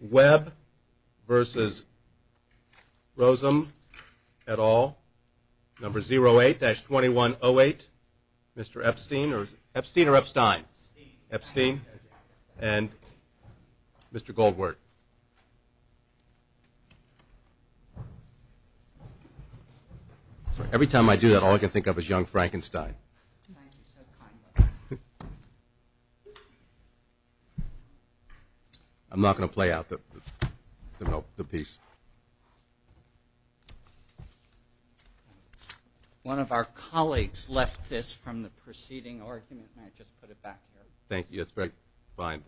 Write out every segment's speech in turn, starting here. Web vs. Rozum et al., number 08-2108, Mr. Epstein. Epstein or Epstein? Epstein. And Mr. Goldberg. Every time I do that, all I can think of is young Frankenstein. I'm not going to play out the piece. One of our colleagues left this from the preceding argument and I just put it back here. Thank you, that's very kind.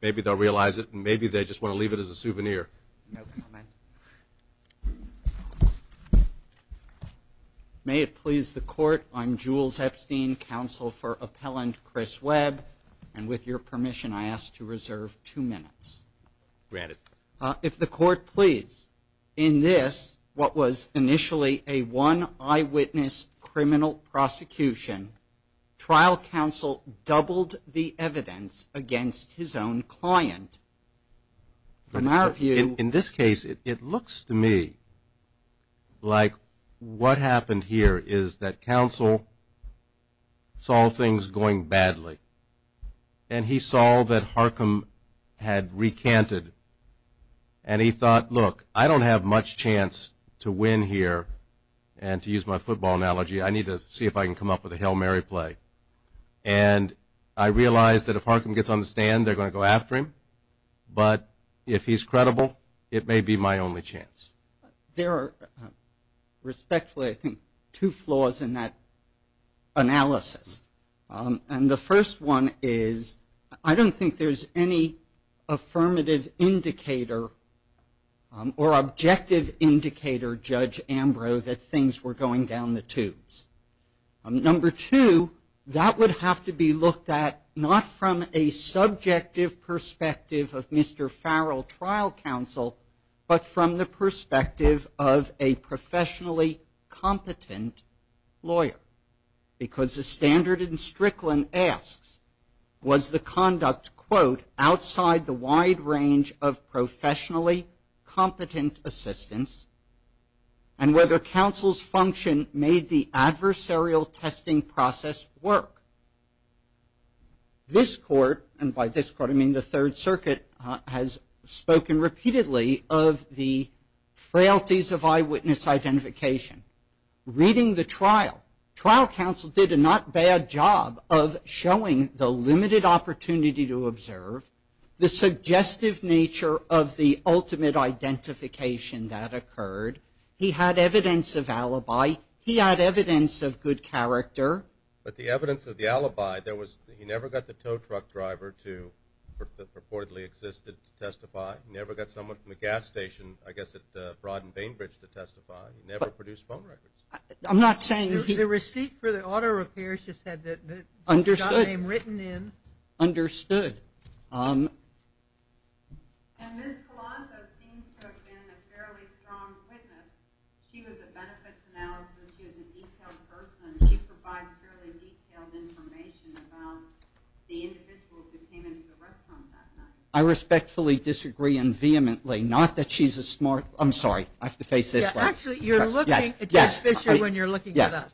Maybe they'll realize it and maybe they just want to leave it as a souvenir. No comment. May it please the Court, I'm Jules Epstein, Counsel for Appellant Chris Webb, and with your permission I ask to reserve two minutes. Granted. If the Court please. In this, what was initially a one eyewitness criminal prosecution, trial counsel doubled the evidence against his own client. In this case, it looks to me like what happened here is that counsel saw things going badly and he saw that Harcum had recanted and he thought, look, I don't have much chance to win here and to use my football analogy, I need to see if I can come up with a Hail Mary play and I realize that if Harcum gets on the stand, they're going to go after him, but if he's credible, it may be my only chance. There are respectfully, I think, two flaws in that analysis. And the first one is, I don't think there's any affirmative indicator or objective indicator, Judge Ambrose, that things were going down the tubes. Number two, that would have to be looked at not from a subjective perspective of Mr. Farrell lawyer because the standard in Strickland asks, was the conduct, quote, outside the wide range of professionally competent assistants and whether counsel's function made the adversarial testing process work. This Court, and by this Court I mean the Third Circuit, has spoken repeatedly of the frailties of eyewitness identification. Reading the trial, trial counsel did a not bad job of showing the limited opportunity to observe, the suggestive nature of the ultimate identification that occurred. He had evidence of alibi. He had evidence of good character. But the evidence of the alibi, there was, he never got the tow truck driver to purportedly exist to testify. He never got someone from the gas station, I guess at Broad and Bainbridge to testify. He never produced phone records. I'm not saying he... The receipt for the auto repairs just had the... Understood. ...name written in. Understood. And Ms. Colanzo seems to have been a fairly strong witness. She was a benefits analyst, she was a detailed person, she provides fairly detailed information about the individuals who came into the restaurant that night. I respectfully disagree and vehemently, not that she's a smart, I'm sorry, I have to face this way. Actually, you're looking at Judge Fischer when you're looking at us,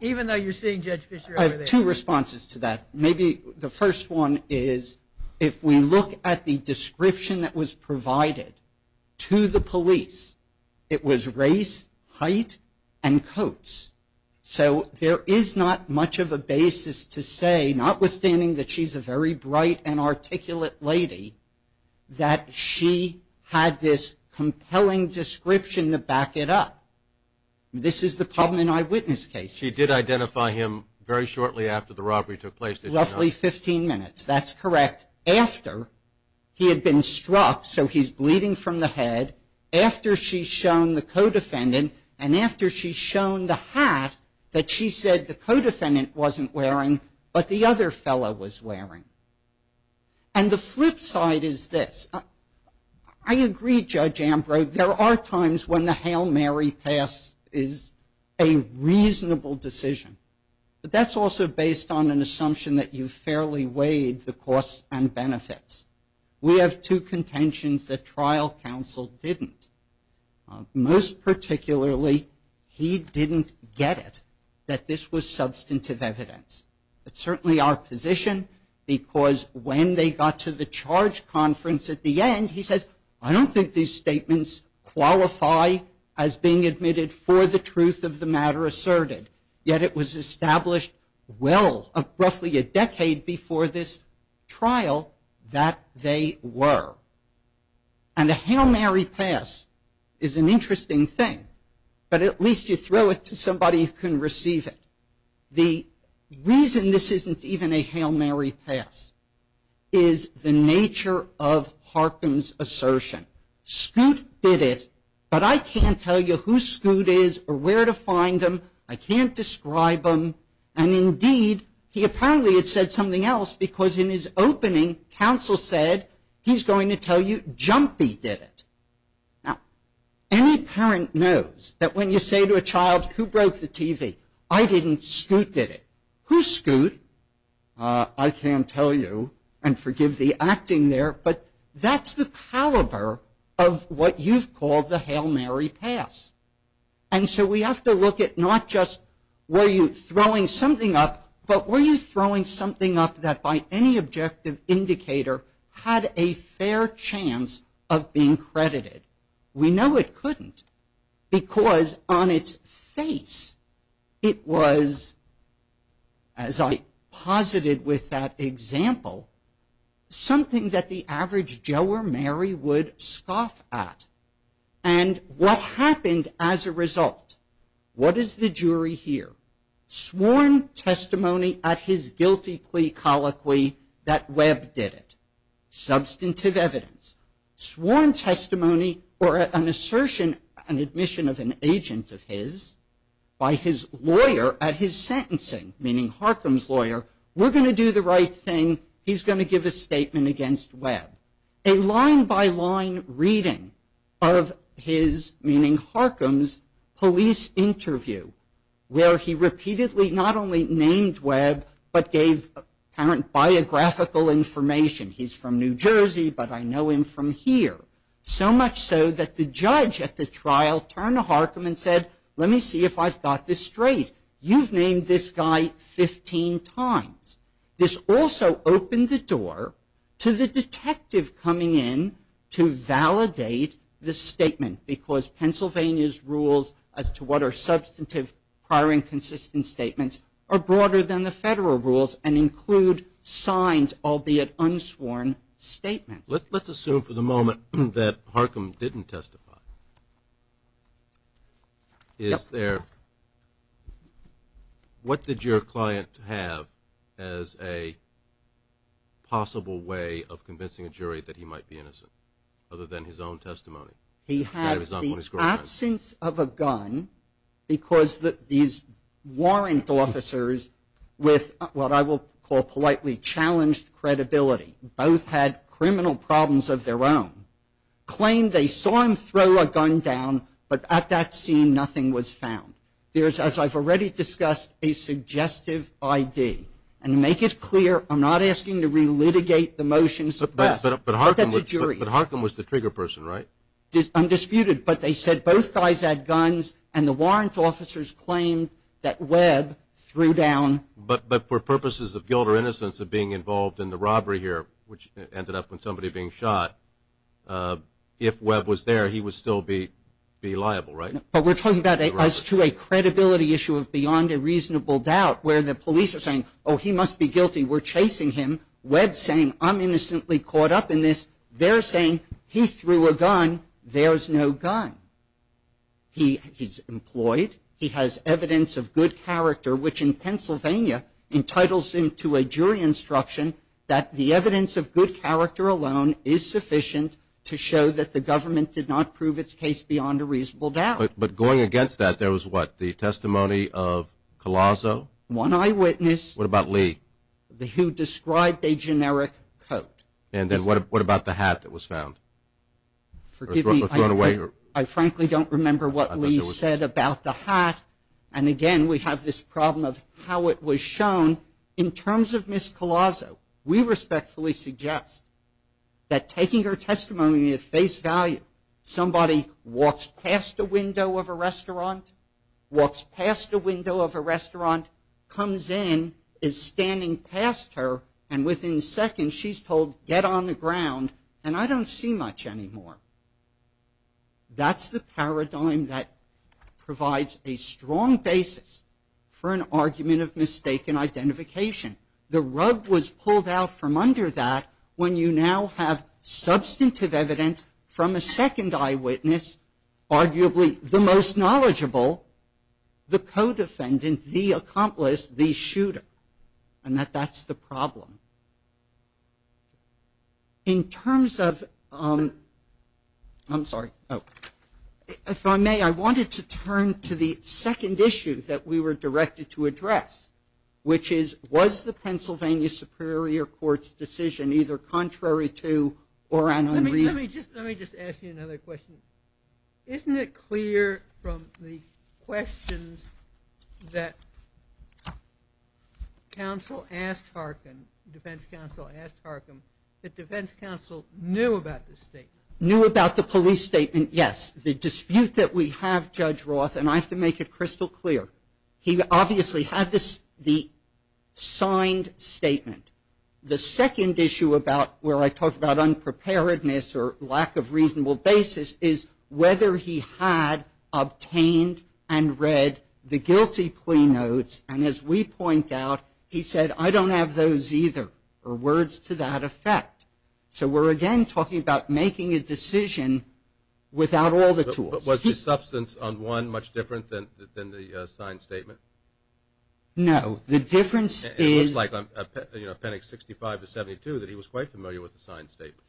even though you're seeing Judge Fischer over there. I have two responses to that. Maybe the first one is, if we look at the description that was provided to the police, it was race, height, and coats. So there is not much of a basis to say, notwithstanding that she's a very bright and articulate lady, that she had this problem in eyewitness cases. She did identify him very shortly after the robbery took place, did she not? Roughly 15 minutes, that's correct. After he had been struck, so he's bleeding from the head, after she's shown the co-defendant, and after she's shown the hat that she said the co-defendant wasn't wearing, but the other fellow was wearing. And the flip side is this. I agree, Judge Ambrose, there are times when the Hail Mary pass is a reasonable decision, but that's also based on an assumption that you fairly weighed the costs and benefits. We have two contentions that trial counsel didn't. Most particularly, he didn't get that this was substantive evidence. It's certainly our position, because when they got to the charge conference at the end, he says, I don't think these statements qualify as being admitted for the truth of the matter asserted, yet it was established well, roughly a decade before this trial, that they were. And a Hail Mary pass is an interesting thing, but at least you throw it to somebody who can receive it. The reason this isn't even a Hail Mary pass is the nature of Harkin's assertion. Scoot did it, but I can't tell you who Scoot is or where to find him. I can't describe him. And indeed, he apparently had said something else, because in his opening counsel said, he's going to tell you Jumpy did it. Now, any parent knows that when you say to a child, who broke the TV? I didn't, Scoot did it. Who's Scoot? I can't tell you, and forgive the acting there, but that's the caliber of what you've called the Hail Mary pass. And so we have to look at not just were this indicator had a fair chance of being credited. We know it couldn't, because on its face, it was, as I posited with that example, something that the average Joe or Mary would scoff at. And what happened as a result? What does the jury hear? Sworn testimony at his guilty plea colloquy that Webb did it. Substantive evidence. Sworn testimony or an assertion, an admission of an agent of his by his lawyer at his sentencing, meaning Harkin's lawyer, we're going to do the right thing. He's going to give a statement against Webb. A line by line reading of his, meaning Harkin's, police interview, where he repeatedly not only named Webb, but gave apparent biographical information. He's from New Jersey, but I know him from here. So much so that the judge at the trial turned to Harkin and said, let me see if I've got this straight. You've named this guy 15 times. This also opened the door to the detective coming in to validate the statement, because Pennsylvania's rules as to what are substantive prior inconsistent statements are broader than the federal rules and include signs, albeit unsworn statements. Let's assume for the moment that Harkin didn't testify. Is there, what did your client have as a possible way of convincing a jury that he might be innocent, other than his own testimony? He had the absence of a gun, because these warrant officers with what I will call politely challenged credibility, both had criminal problems of their own, claimed they saw him throw a gun down, but at that scene nothing was found. There's, as I've already discussed, a suggestive ID. And to make it clear, Harkin was the trigger person, right? Undisputed, but they said both guys had guns and the warrant officers claimed that Webb threw down. But for purposes of guilt or innocence of being involved in the robbery here, which ended up with somebody being shot, if Webb was there, he would still be liable, right? But we're talking about as to a credibility issue of beyond a reasonable doubt, where the police are saying, oh, he must be guilty, we're chasing him, Webb's saying, I'm innocently caught up in this, they're saying, he threw a gun, there's no gun. He's employed, he has evidence of good character, which in Pennsylvania entitles him to a jury instruction that the evidence of good character alone is sufficient to show that the government did not prove its case beyond a reasonable doubt. But going a generic quote. And then what about the hat that was found? I frankly don't remember what Lee said about the hat. And again, we have this problem of how it was shown. In terms of Ms. Collazo, we respectfully suggest that taking her testimony at face value, somebody walks past a window of a restaurant, walks past a window of a restaurant, comes in, is addressed to her, and within seconds she's told, get on the ground, and I don't see much anymore. That's the paradigm that provides a strong basis for an argument of mistaken identification. The rug was pulled out from under that when you now have substantive evidence from a second eyewitness, arguably the most knowledgeable, the co-defendant, the accomplice, the shooter, and that that's the problem. In terms of, I'm sorry, if I may, I wanted to turn to the second issue that we were directed to address, which is, was the Pennsylvania Superior Court's decision either contrary to or unreasonable? Let me just ask you another question. Isn't it clear from the questions that counsel asked Harkin, defense counsel asked Harkin, that defense counsel knew about this statement? Knew about the police statement, yes. The dispute that we have, Judge Roth, and I have to make it crystal clear, he obviously had the signed statement. The second issue about where I talk about unpreparedness or lack of reasonable basis is whether he had obtained and read the guilty plea notes, and as we point out, he said, I don't have those either, or words to that effect. So we're again talking about making a decision without all the tools. Was the substance on one much different than the signed statement? No. The difference is... It looks like on appendix 65 to 72 that he was quite familiar with the signed statement.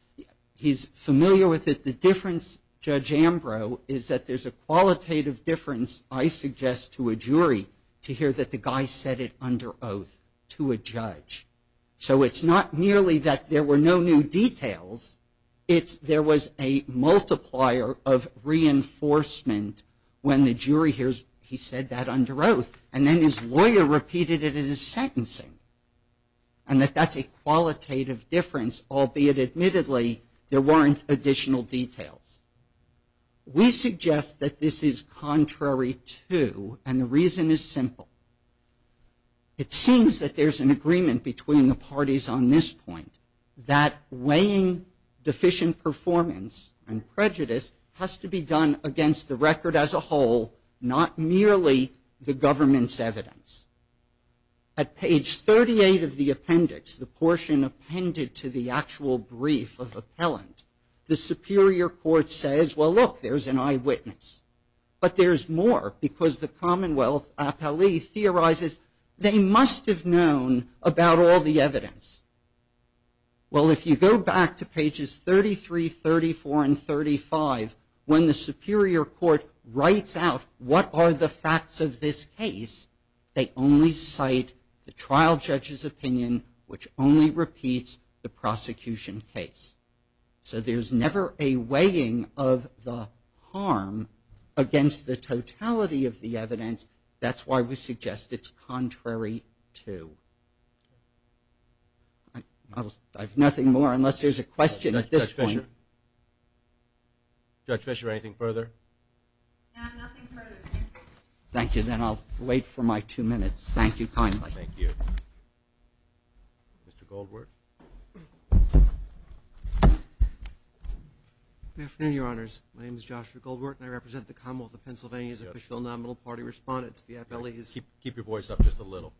He's familiar with it. The difference, Judge Ambrose, is that there's a qualitative difference, I suggest to a jury, to hear that the guy said it under oath to a judge. So it's not merely that there were no new details, it's there was a multiplier of reinforcement when the jury hears he said that under oath, and then his lawyer repeated it in his sentencing, and that that's a qualitative difference, albeit admittedly there weren't additional details. We suggest that this is contrary to, and the reason is simple. It seems that there's an agreement between the parties on this point, that weighing deficient performance and prejudice has to be done against the record as a whole, not merely the government's evidence. At page 38 of the appendix, the portion appended to the actual brief of appellant, the Superior Court says, well, look, there's an eyewitness. But there's more, because the Commonwealth appellee theorizes they must have known about all the evidence. Well, if you go back to pages 33, 34, and 35, when the Superior Court writes out what are the facts of this case, they only cite the trial judge's opinion, which only repeats the prosecution case. So there's never a weighing of the harm against the totality of the evidence. That's why we suggest it's contrary to. I have nothing more unless there's a question at this point. Judge Fischer, anything further? No, nothing further. Thank you, then I'll wait for my two minutes. Thank you kindly. Thank you. Mr. Goldwurt. Good afternoon, Your Honors. My name is Joshua Goldwurt, and I represent the Commonwealth of Pennsylvania's official nominal party respondents, the appellees. Keep your voice up just a little.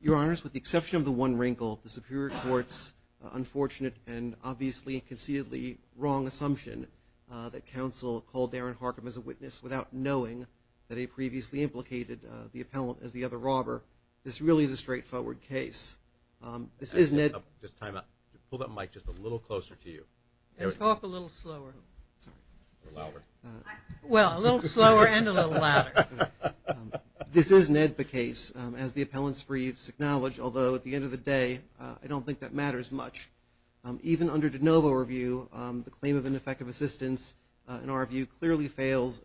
Your Honors, with the exception of the one wrinkle, the Superior Court's unfortunate and obviously conceitedly wrong assumption that counsel called Darren Harcum as a witness without knowing that he previously implicated the appellant as the other robber, this really is a straightforward case. This isn't a- Just time out. Pull that mic just a little closer to you. Let's talk a little slower. Or louder. Well, a little slower and a little louder. This is an AEDPA case, as the appellant's briefs acknowledge, although at the end of the day, I don't think that matters much. Even under de novo review, the claim of ineffective assistance, in our view, clearly fails,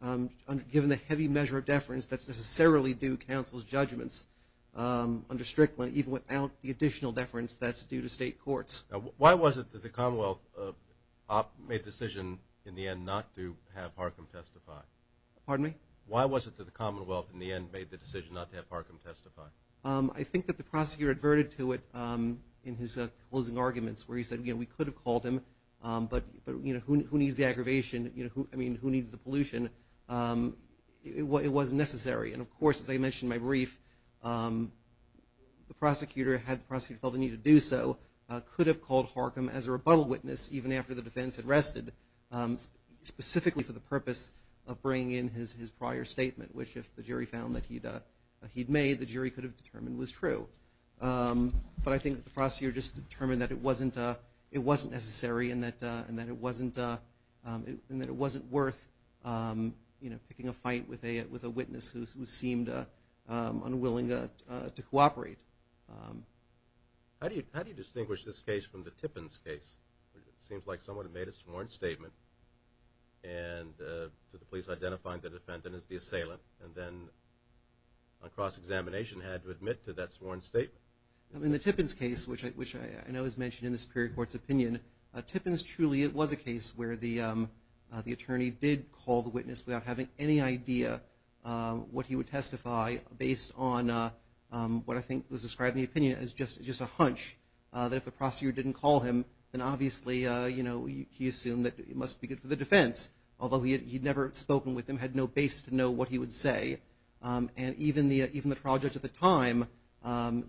given the heavy measure of deference that's necessarily due counsel's judgments under Strickland, even without the additional deference that's due to state courts. Why was it that the Commonwealth made the decision in the end not to have Harcum testify? Pardon me? Why was it that the Commonwealth, in the end, made the decision not to have Harcum testify? I think that the prosecutor adverted to it in his closing arguments, where he said, you know, we could have called him, but, you know, who needs the aggravation? You know, I mean, who needs the pollution? It wasn't necessary. And of course, as I mentioned in my brief, the prosecutor, had the prosecutor felt the need to do so, could have called Harcum as a rebuttal witness, even after the defense had rested, specifically for the purpose of bringing in his prior statement, which if the jury found that he'd made, the jury could have determined was true. But I think the prosecutor just determined that it wasn't necessary and that it wasn't worth, you know, picking a fight with a witness who seemed unwilling to cooperate. How do you distinguish this case from the Tippins case? It seems like someone had made a sworn statement to the police identifying the defendant as the assailant, and then on cross-examination had to admit to that sworn statement. In the Tippins case, which I know is mentioned in the Superior Court's opinion, Tippins truly was a case where the attorney did call the witness without having any idea what he would testify based on what I think was described in the opinion as just a hunch that if the prosecutor didn't call him, then obviously, you know, he assumed that he must be good for the defense, although he had never spoken with him, had no base to know what he would say. And even the trial judge at the time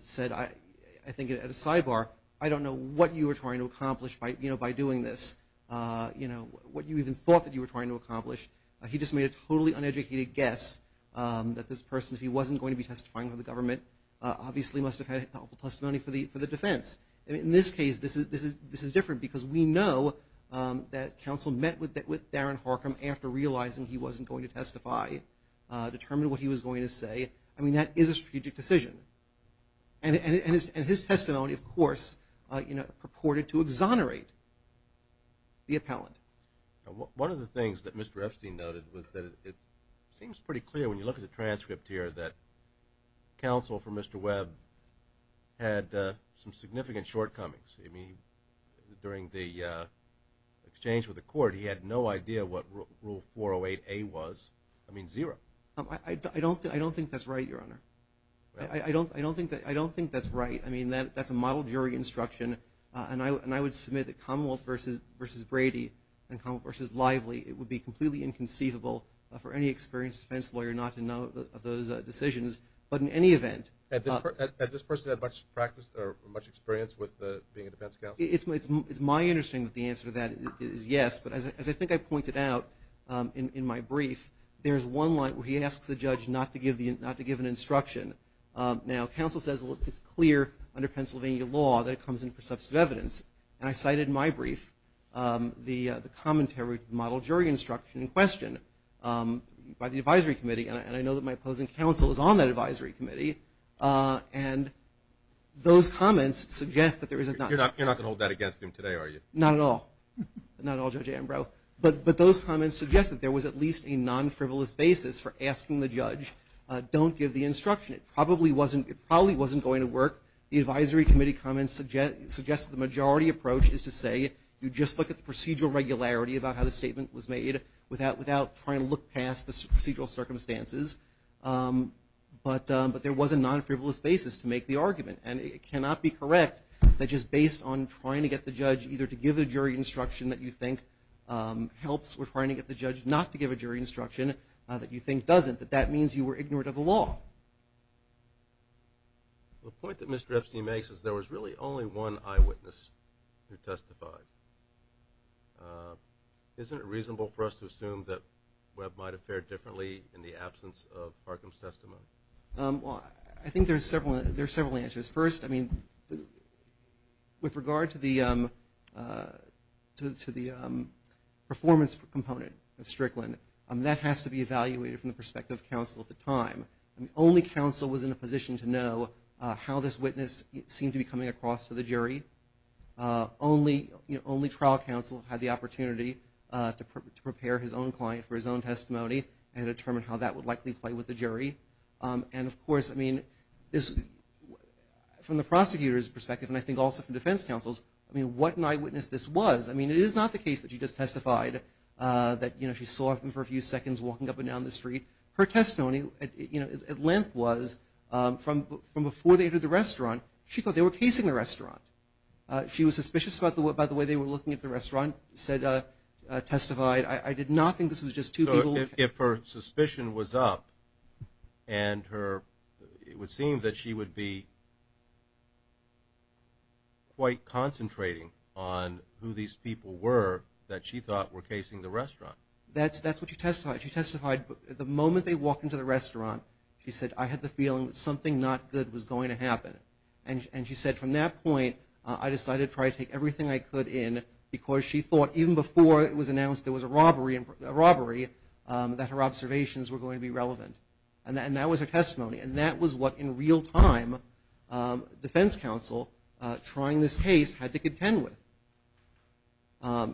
said, I think at a sidebar, I don't know what you were trying to accomplish by doing this, you know, what you even thought that you were trying to accomplish. He just made a totally uneducated guess that this person, if he wasn't going to be testifying for the government, obviously must have had helpful testimony for the defense. In this case, this is different because we know that counsel met with Darren Harcum after realizing he wasn't going to testify, determined what he was going to say. I mean, that is a strategic decision. And his testimony, of course, purported to exonerate the appellant. One of the things that Mr. Epstein noted was that it seems pretty clear when you look at the transcript here that counsel for Mr. Webb had some significant shortcomings. I mean, during the exchange with the court, he had no idea what Rule 408A was. I mean, zero. I don't think that's right, Your Honor. I don't think that's right. I mean, that's a model jury instruction. And I would submit that Commonwealth v. Brady and Commonwealth v. Lively, it would be completely inconceivable for any experienced defense lawyer not to know of those decisions. But in any event. Has this person had much experience with being a defense counsel? It's my understanding that the answer to that is yes. But as I think I pointed out in my brief, there is one line where he asks the judge not to give an instruction. Now, counsel says, well, it's clear under Pennsylvania law that it comes in for substantive evidence. And I cited in my brief the commentary to the model jury instruction in question by the advisory committee. And I know that my opposing counsel is on that advisory committee. And those comments suggest that there is not. You're not going to hold that against him today, are you? Not at all. Not at all, Judge Ambrose. But those comments suggest that there was at least a non-frivolous basis for asking the judge, don't give the instruction. It probably wasn't going to work. The advisory committee comments suggest the majority approach is to say you just look at the procedural regularity about how the statement was made without trying to look past the procedural circumstances. But there was a non-frivolous basis to make the argument. And it cannot be correct that just based on trying to get the judge either to give a jury instruction that you think helps or trying to get the judge not to give a jury instruction that you think doesn't, that that means you were ignorant of the law. The point that Mr. Epstein makes is there was really only one eyewitness who testified. Isn't it reasonable for us to assume that Webb might have fared differently in the absence of Parkham's testimony? Well, I think there are several answers. First, I mean, with regard to the performance component of Strickland, that has to be evaluated from the perspective of counsel at the time. Only counsel was in a position to know how this witness seemed to be coming across to the jury. Only trial counsel had the opportunity to prepare his own client for his own testimony and determine how that would likely play with the jury. And, of course, I mean, from the prosecutor's perspective and I think also from defense counsel's, I mean, what an eyewitness this was. I mean, it is not the case that she just testified that, you know, she saw him for a few seconds walking up and down the street. Her testimony, you know, at length was from before they entered the restaurant, she thought they were casing the restaurant. She was suspicious about the way they were looking at the restaurant, said, testified. I did not think this was just two people. If her suspicion was up and it would seem that she would be quite concentrating on who these people were that she thought were casing the restaurant. That's what she testified. She testified the moment they walked into the restaurant, she said, I had the feeling that something not good was going to happen. And she said, from that point, I decided to try to take everything I could in because she thought, even before it was announced there was a robbery, that her observations were going to be relevant. And that was her testimony. And that was what, in real time, defense counsel, trying this case, had to contend with.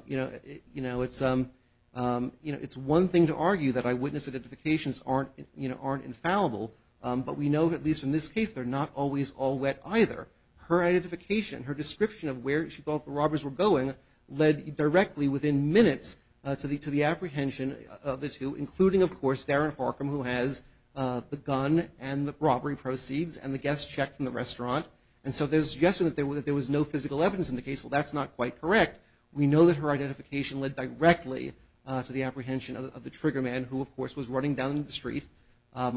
You know, it's one thing to argue that eyewitness identifications aren't infallible, but we know, at least in this case, they're not always all wet either. Her identification, her description of where she thought the robbers were going, led directly, within minutes, to the apprehension of the two, including, of course, Darren Harcum, who has the gun and the robbery proceeds and the guest check from the restaurant. And so there's a suggestion that there was no physical evidence in the case. Well, that's not quite correct. We know that her identification led directly to the apprehension of the trigger man, who, of course, was running down the street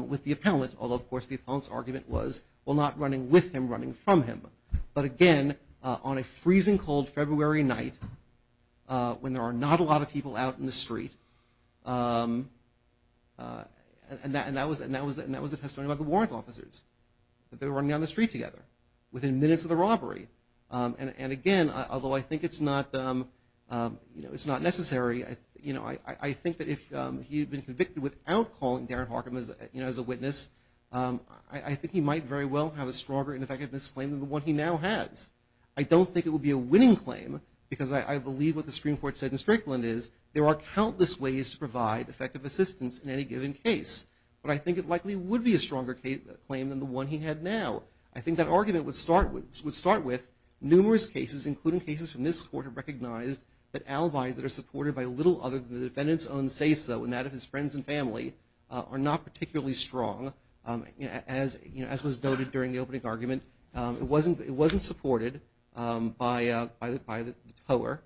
with the appellant, although, of course, the appellant's argument was, well, not running with him, running from him. But, again, on a freezing cold February night, when there are not a lot of people out in the street, and that was the testimony by the warrant officers, that they were running down the street together, within minutes of the robbery. And, again, although I think it's not necessary, I think that if he had been convicted without calling Darren Harcum as a witness, I think he might very well have a stronger and effective misclaim than the one he now has. I don't think it would be a winning claim, because I believe what the Supreme Court said in Strickland is there are countless ways to provide effective assistance in any given case. But I think it likely would be a stronger claim than the one he had now. I think that argument would start with numerous cases, including cases from this court have recognized that alibis that are supported by little other than the defendant's own say-so and that of his friends and family are not particularly strong, as was noted during the opening argument. It wasn't supported by the tower.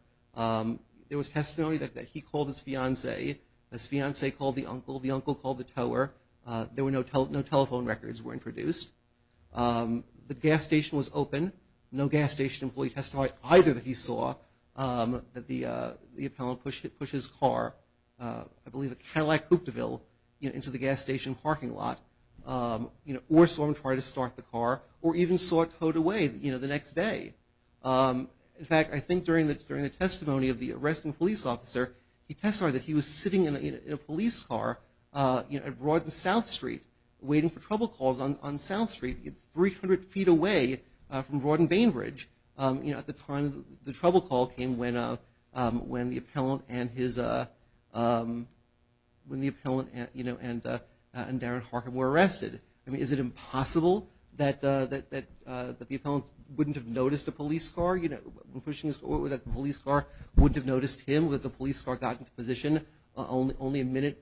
There was testimony that he called his fiancée. His fiancée called the uncle. The uncle called the tower. No telephone records were introduced. The gas station was open. No gas station employee testified either that he saw that the appellant push his car, I believe at Cadillac Cooperville, into the gas station parking lot, or saw him try to start the car, or even saw it towed away the next day. In fact, I think during the testimony of the arresting police officer, he testified that he was sitting in a police car at Broad and South Street, waiting for trouble calls on South Street, 300 feet away from Broad and Bainbridge. At the time, the trouble call came when the appellant and Darren Harkin were arrested. I mean, is it impossible that the appellant wouldn't have noticed a police car, when pushing his car, that the police car wouldn't have noticed him, that the police car got into position only a minute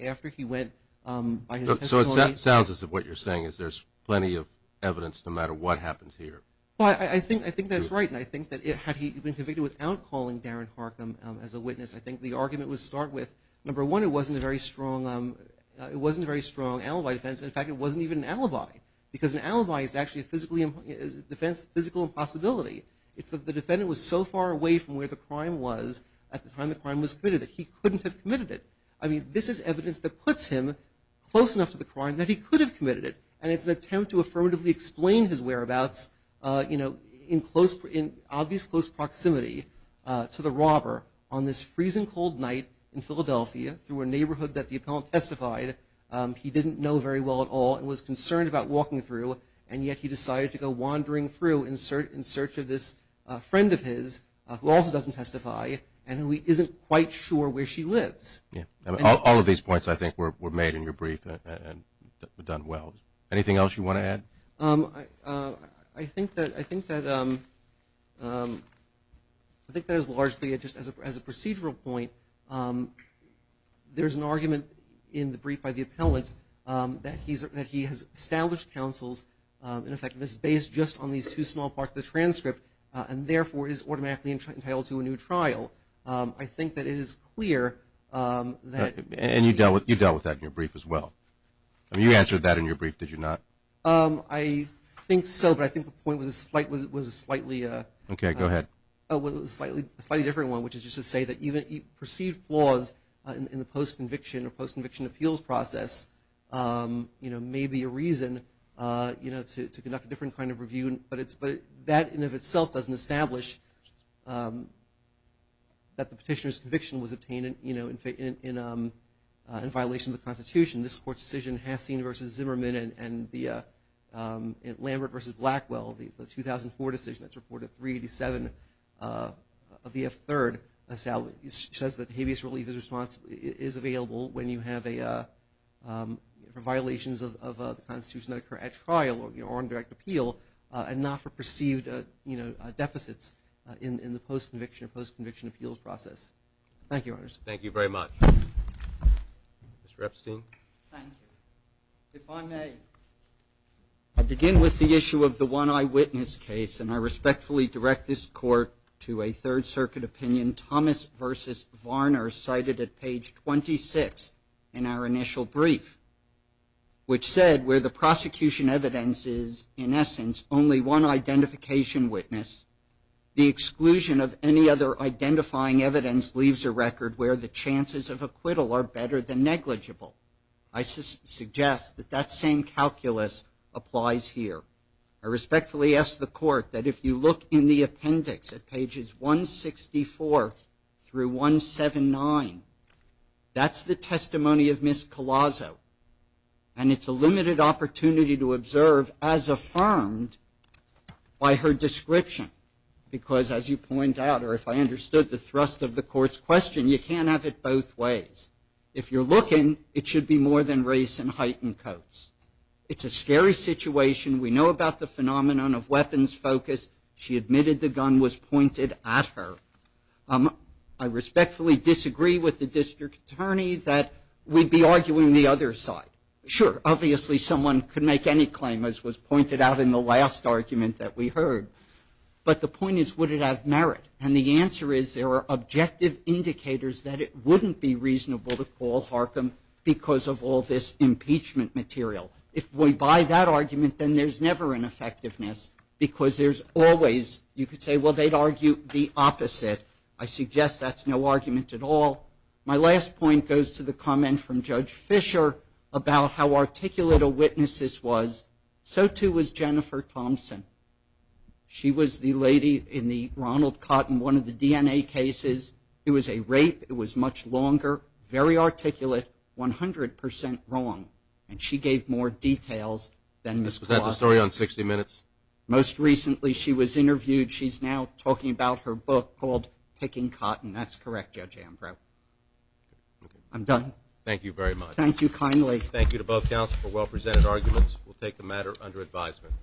after he went by his testimony? So it sounds as if what you're saying is there's plenty of evidence, no matter what happens here. I think that's right, and I think that had he been convicted without calling Darren Harkin as a witness, I think the argument would start with, number one, it wasn't a very strong alibi defense. In fact, it wasn't even an alibi, because an alibi is actually a physical impossibility. It's that the defendant was so far away from where the crime was at the time the crime was committed that he couldn't have committed it. I mean, this is evidence that puts him close enough to the crime that he could have committed it, and it's an attempt to affirmatively explain his whereabouts in obvious close proximity to the robber on this freezing cold night in Philadelphia through a neighborhood that the appellant testified he didn't know very well at all and was concerned about walking through, and yet he decided to go wandering through in search of this friend of his, who also doesn't testify and who isn't quite sure where she lives. All of these points, I think, were made in your brief and done well. Anything else you want to add? I think that as a procedural point, there's an argument in the brief by the appellant that he has established counsels and effectiveness based just on these two small parts of the transcript and therefore is automatically entitled to a new trial. I think that it is clear that... And you dealt with that in your brief as well. I mean, you answered that in your brief, did you not? I think so, but I think the point was a slightly different one, which is just to say that even perceived flaws in the postconviction or postconviction appeals process may be a reason to conduct a different kind of review, but that in and of itself doesn't establish that the petitioner's conviction was obtained in violation of the Constitution. This Court's decision, Hassin v. Zimmerman and Lambert v. Blackwell, the 2004 decision that's reported 387 of the F-3rd, says that habeas relief is available when you have violations of the Constitution that occur at trial or on direct appeal and not for perceived deficits in the postconviction or postconviction appeals process. Thank you, Your Honors. Thank you very much. Mr. Epstein. Thank you. If I may, I begin with the issue of the one eyewitness case, and I respectfully direct this Court to a Third Circuit opinion, Thomas v. Varner, cited at page 26 in our initial brief, which said where the prosecution evidence is, in essence, only one identification witness, the exclusion of any other identifying evidence leaves a record where the chances of acquittal are better than negligible. I suggest that that same calculus applies here. I respectfully ask the Court that if you look in the appendix at pages 164 through 179, that's the testimony of Ms. Collazo, and it's a limited opportunity to observe as affirmed by her description, because as you point out, or if I understood the thrust of the Court's question, you can't have it both ways. If you're looking, it should be more than race and height and coats. It's a scary situation. We know about the phenomenon of weapons focus. She admitted the gun was pointed at her. I respectfully disagree with the District Attorney that we'd be arguing the other side. Sure, obviously someone could make any claim, as was pointed out in the last argument that we heard, but the point is would it have merit, and the answer is there are objective indicators that it wouldn't be reasonable to call Harcum because of all this impeachment material. If we buy that argument, then there's never an effectiveness, because there's always, you could say, well, they'd argue the opposite. I suggest that's no argument at all. My last point goes to the comment from Judge Fisher about how articulate a witness this was. So too was Jennifer Thompson. She was the lady in the Ronald Cotton, one of the DNA cases. It was a rape. It was much longer, very articulate, 100% wrong, and she gave more details than Ms. Collazo. Was that the story on 60 Minutes? Most recently she was interviewed. She's now talking about her book called Picking Cotton. That's correct, Judge Ambrose. I'm done. Thank you very much. Thank you kindly. Thank you to both counsels for well-presented arguments. We'll take the matter under advisement.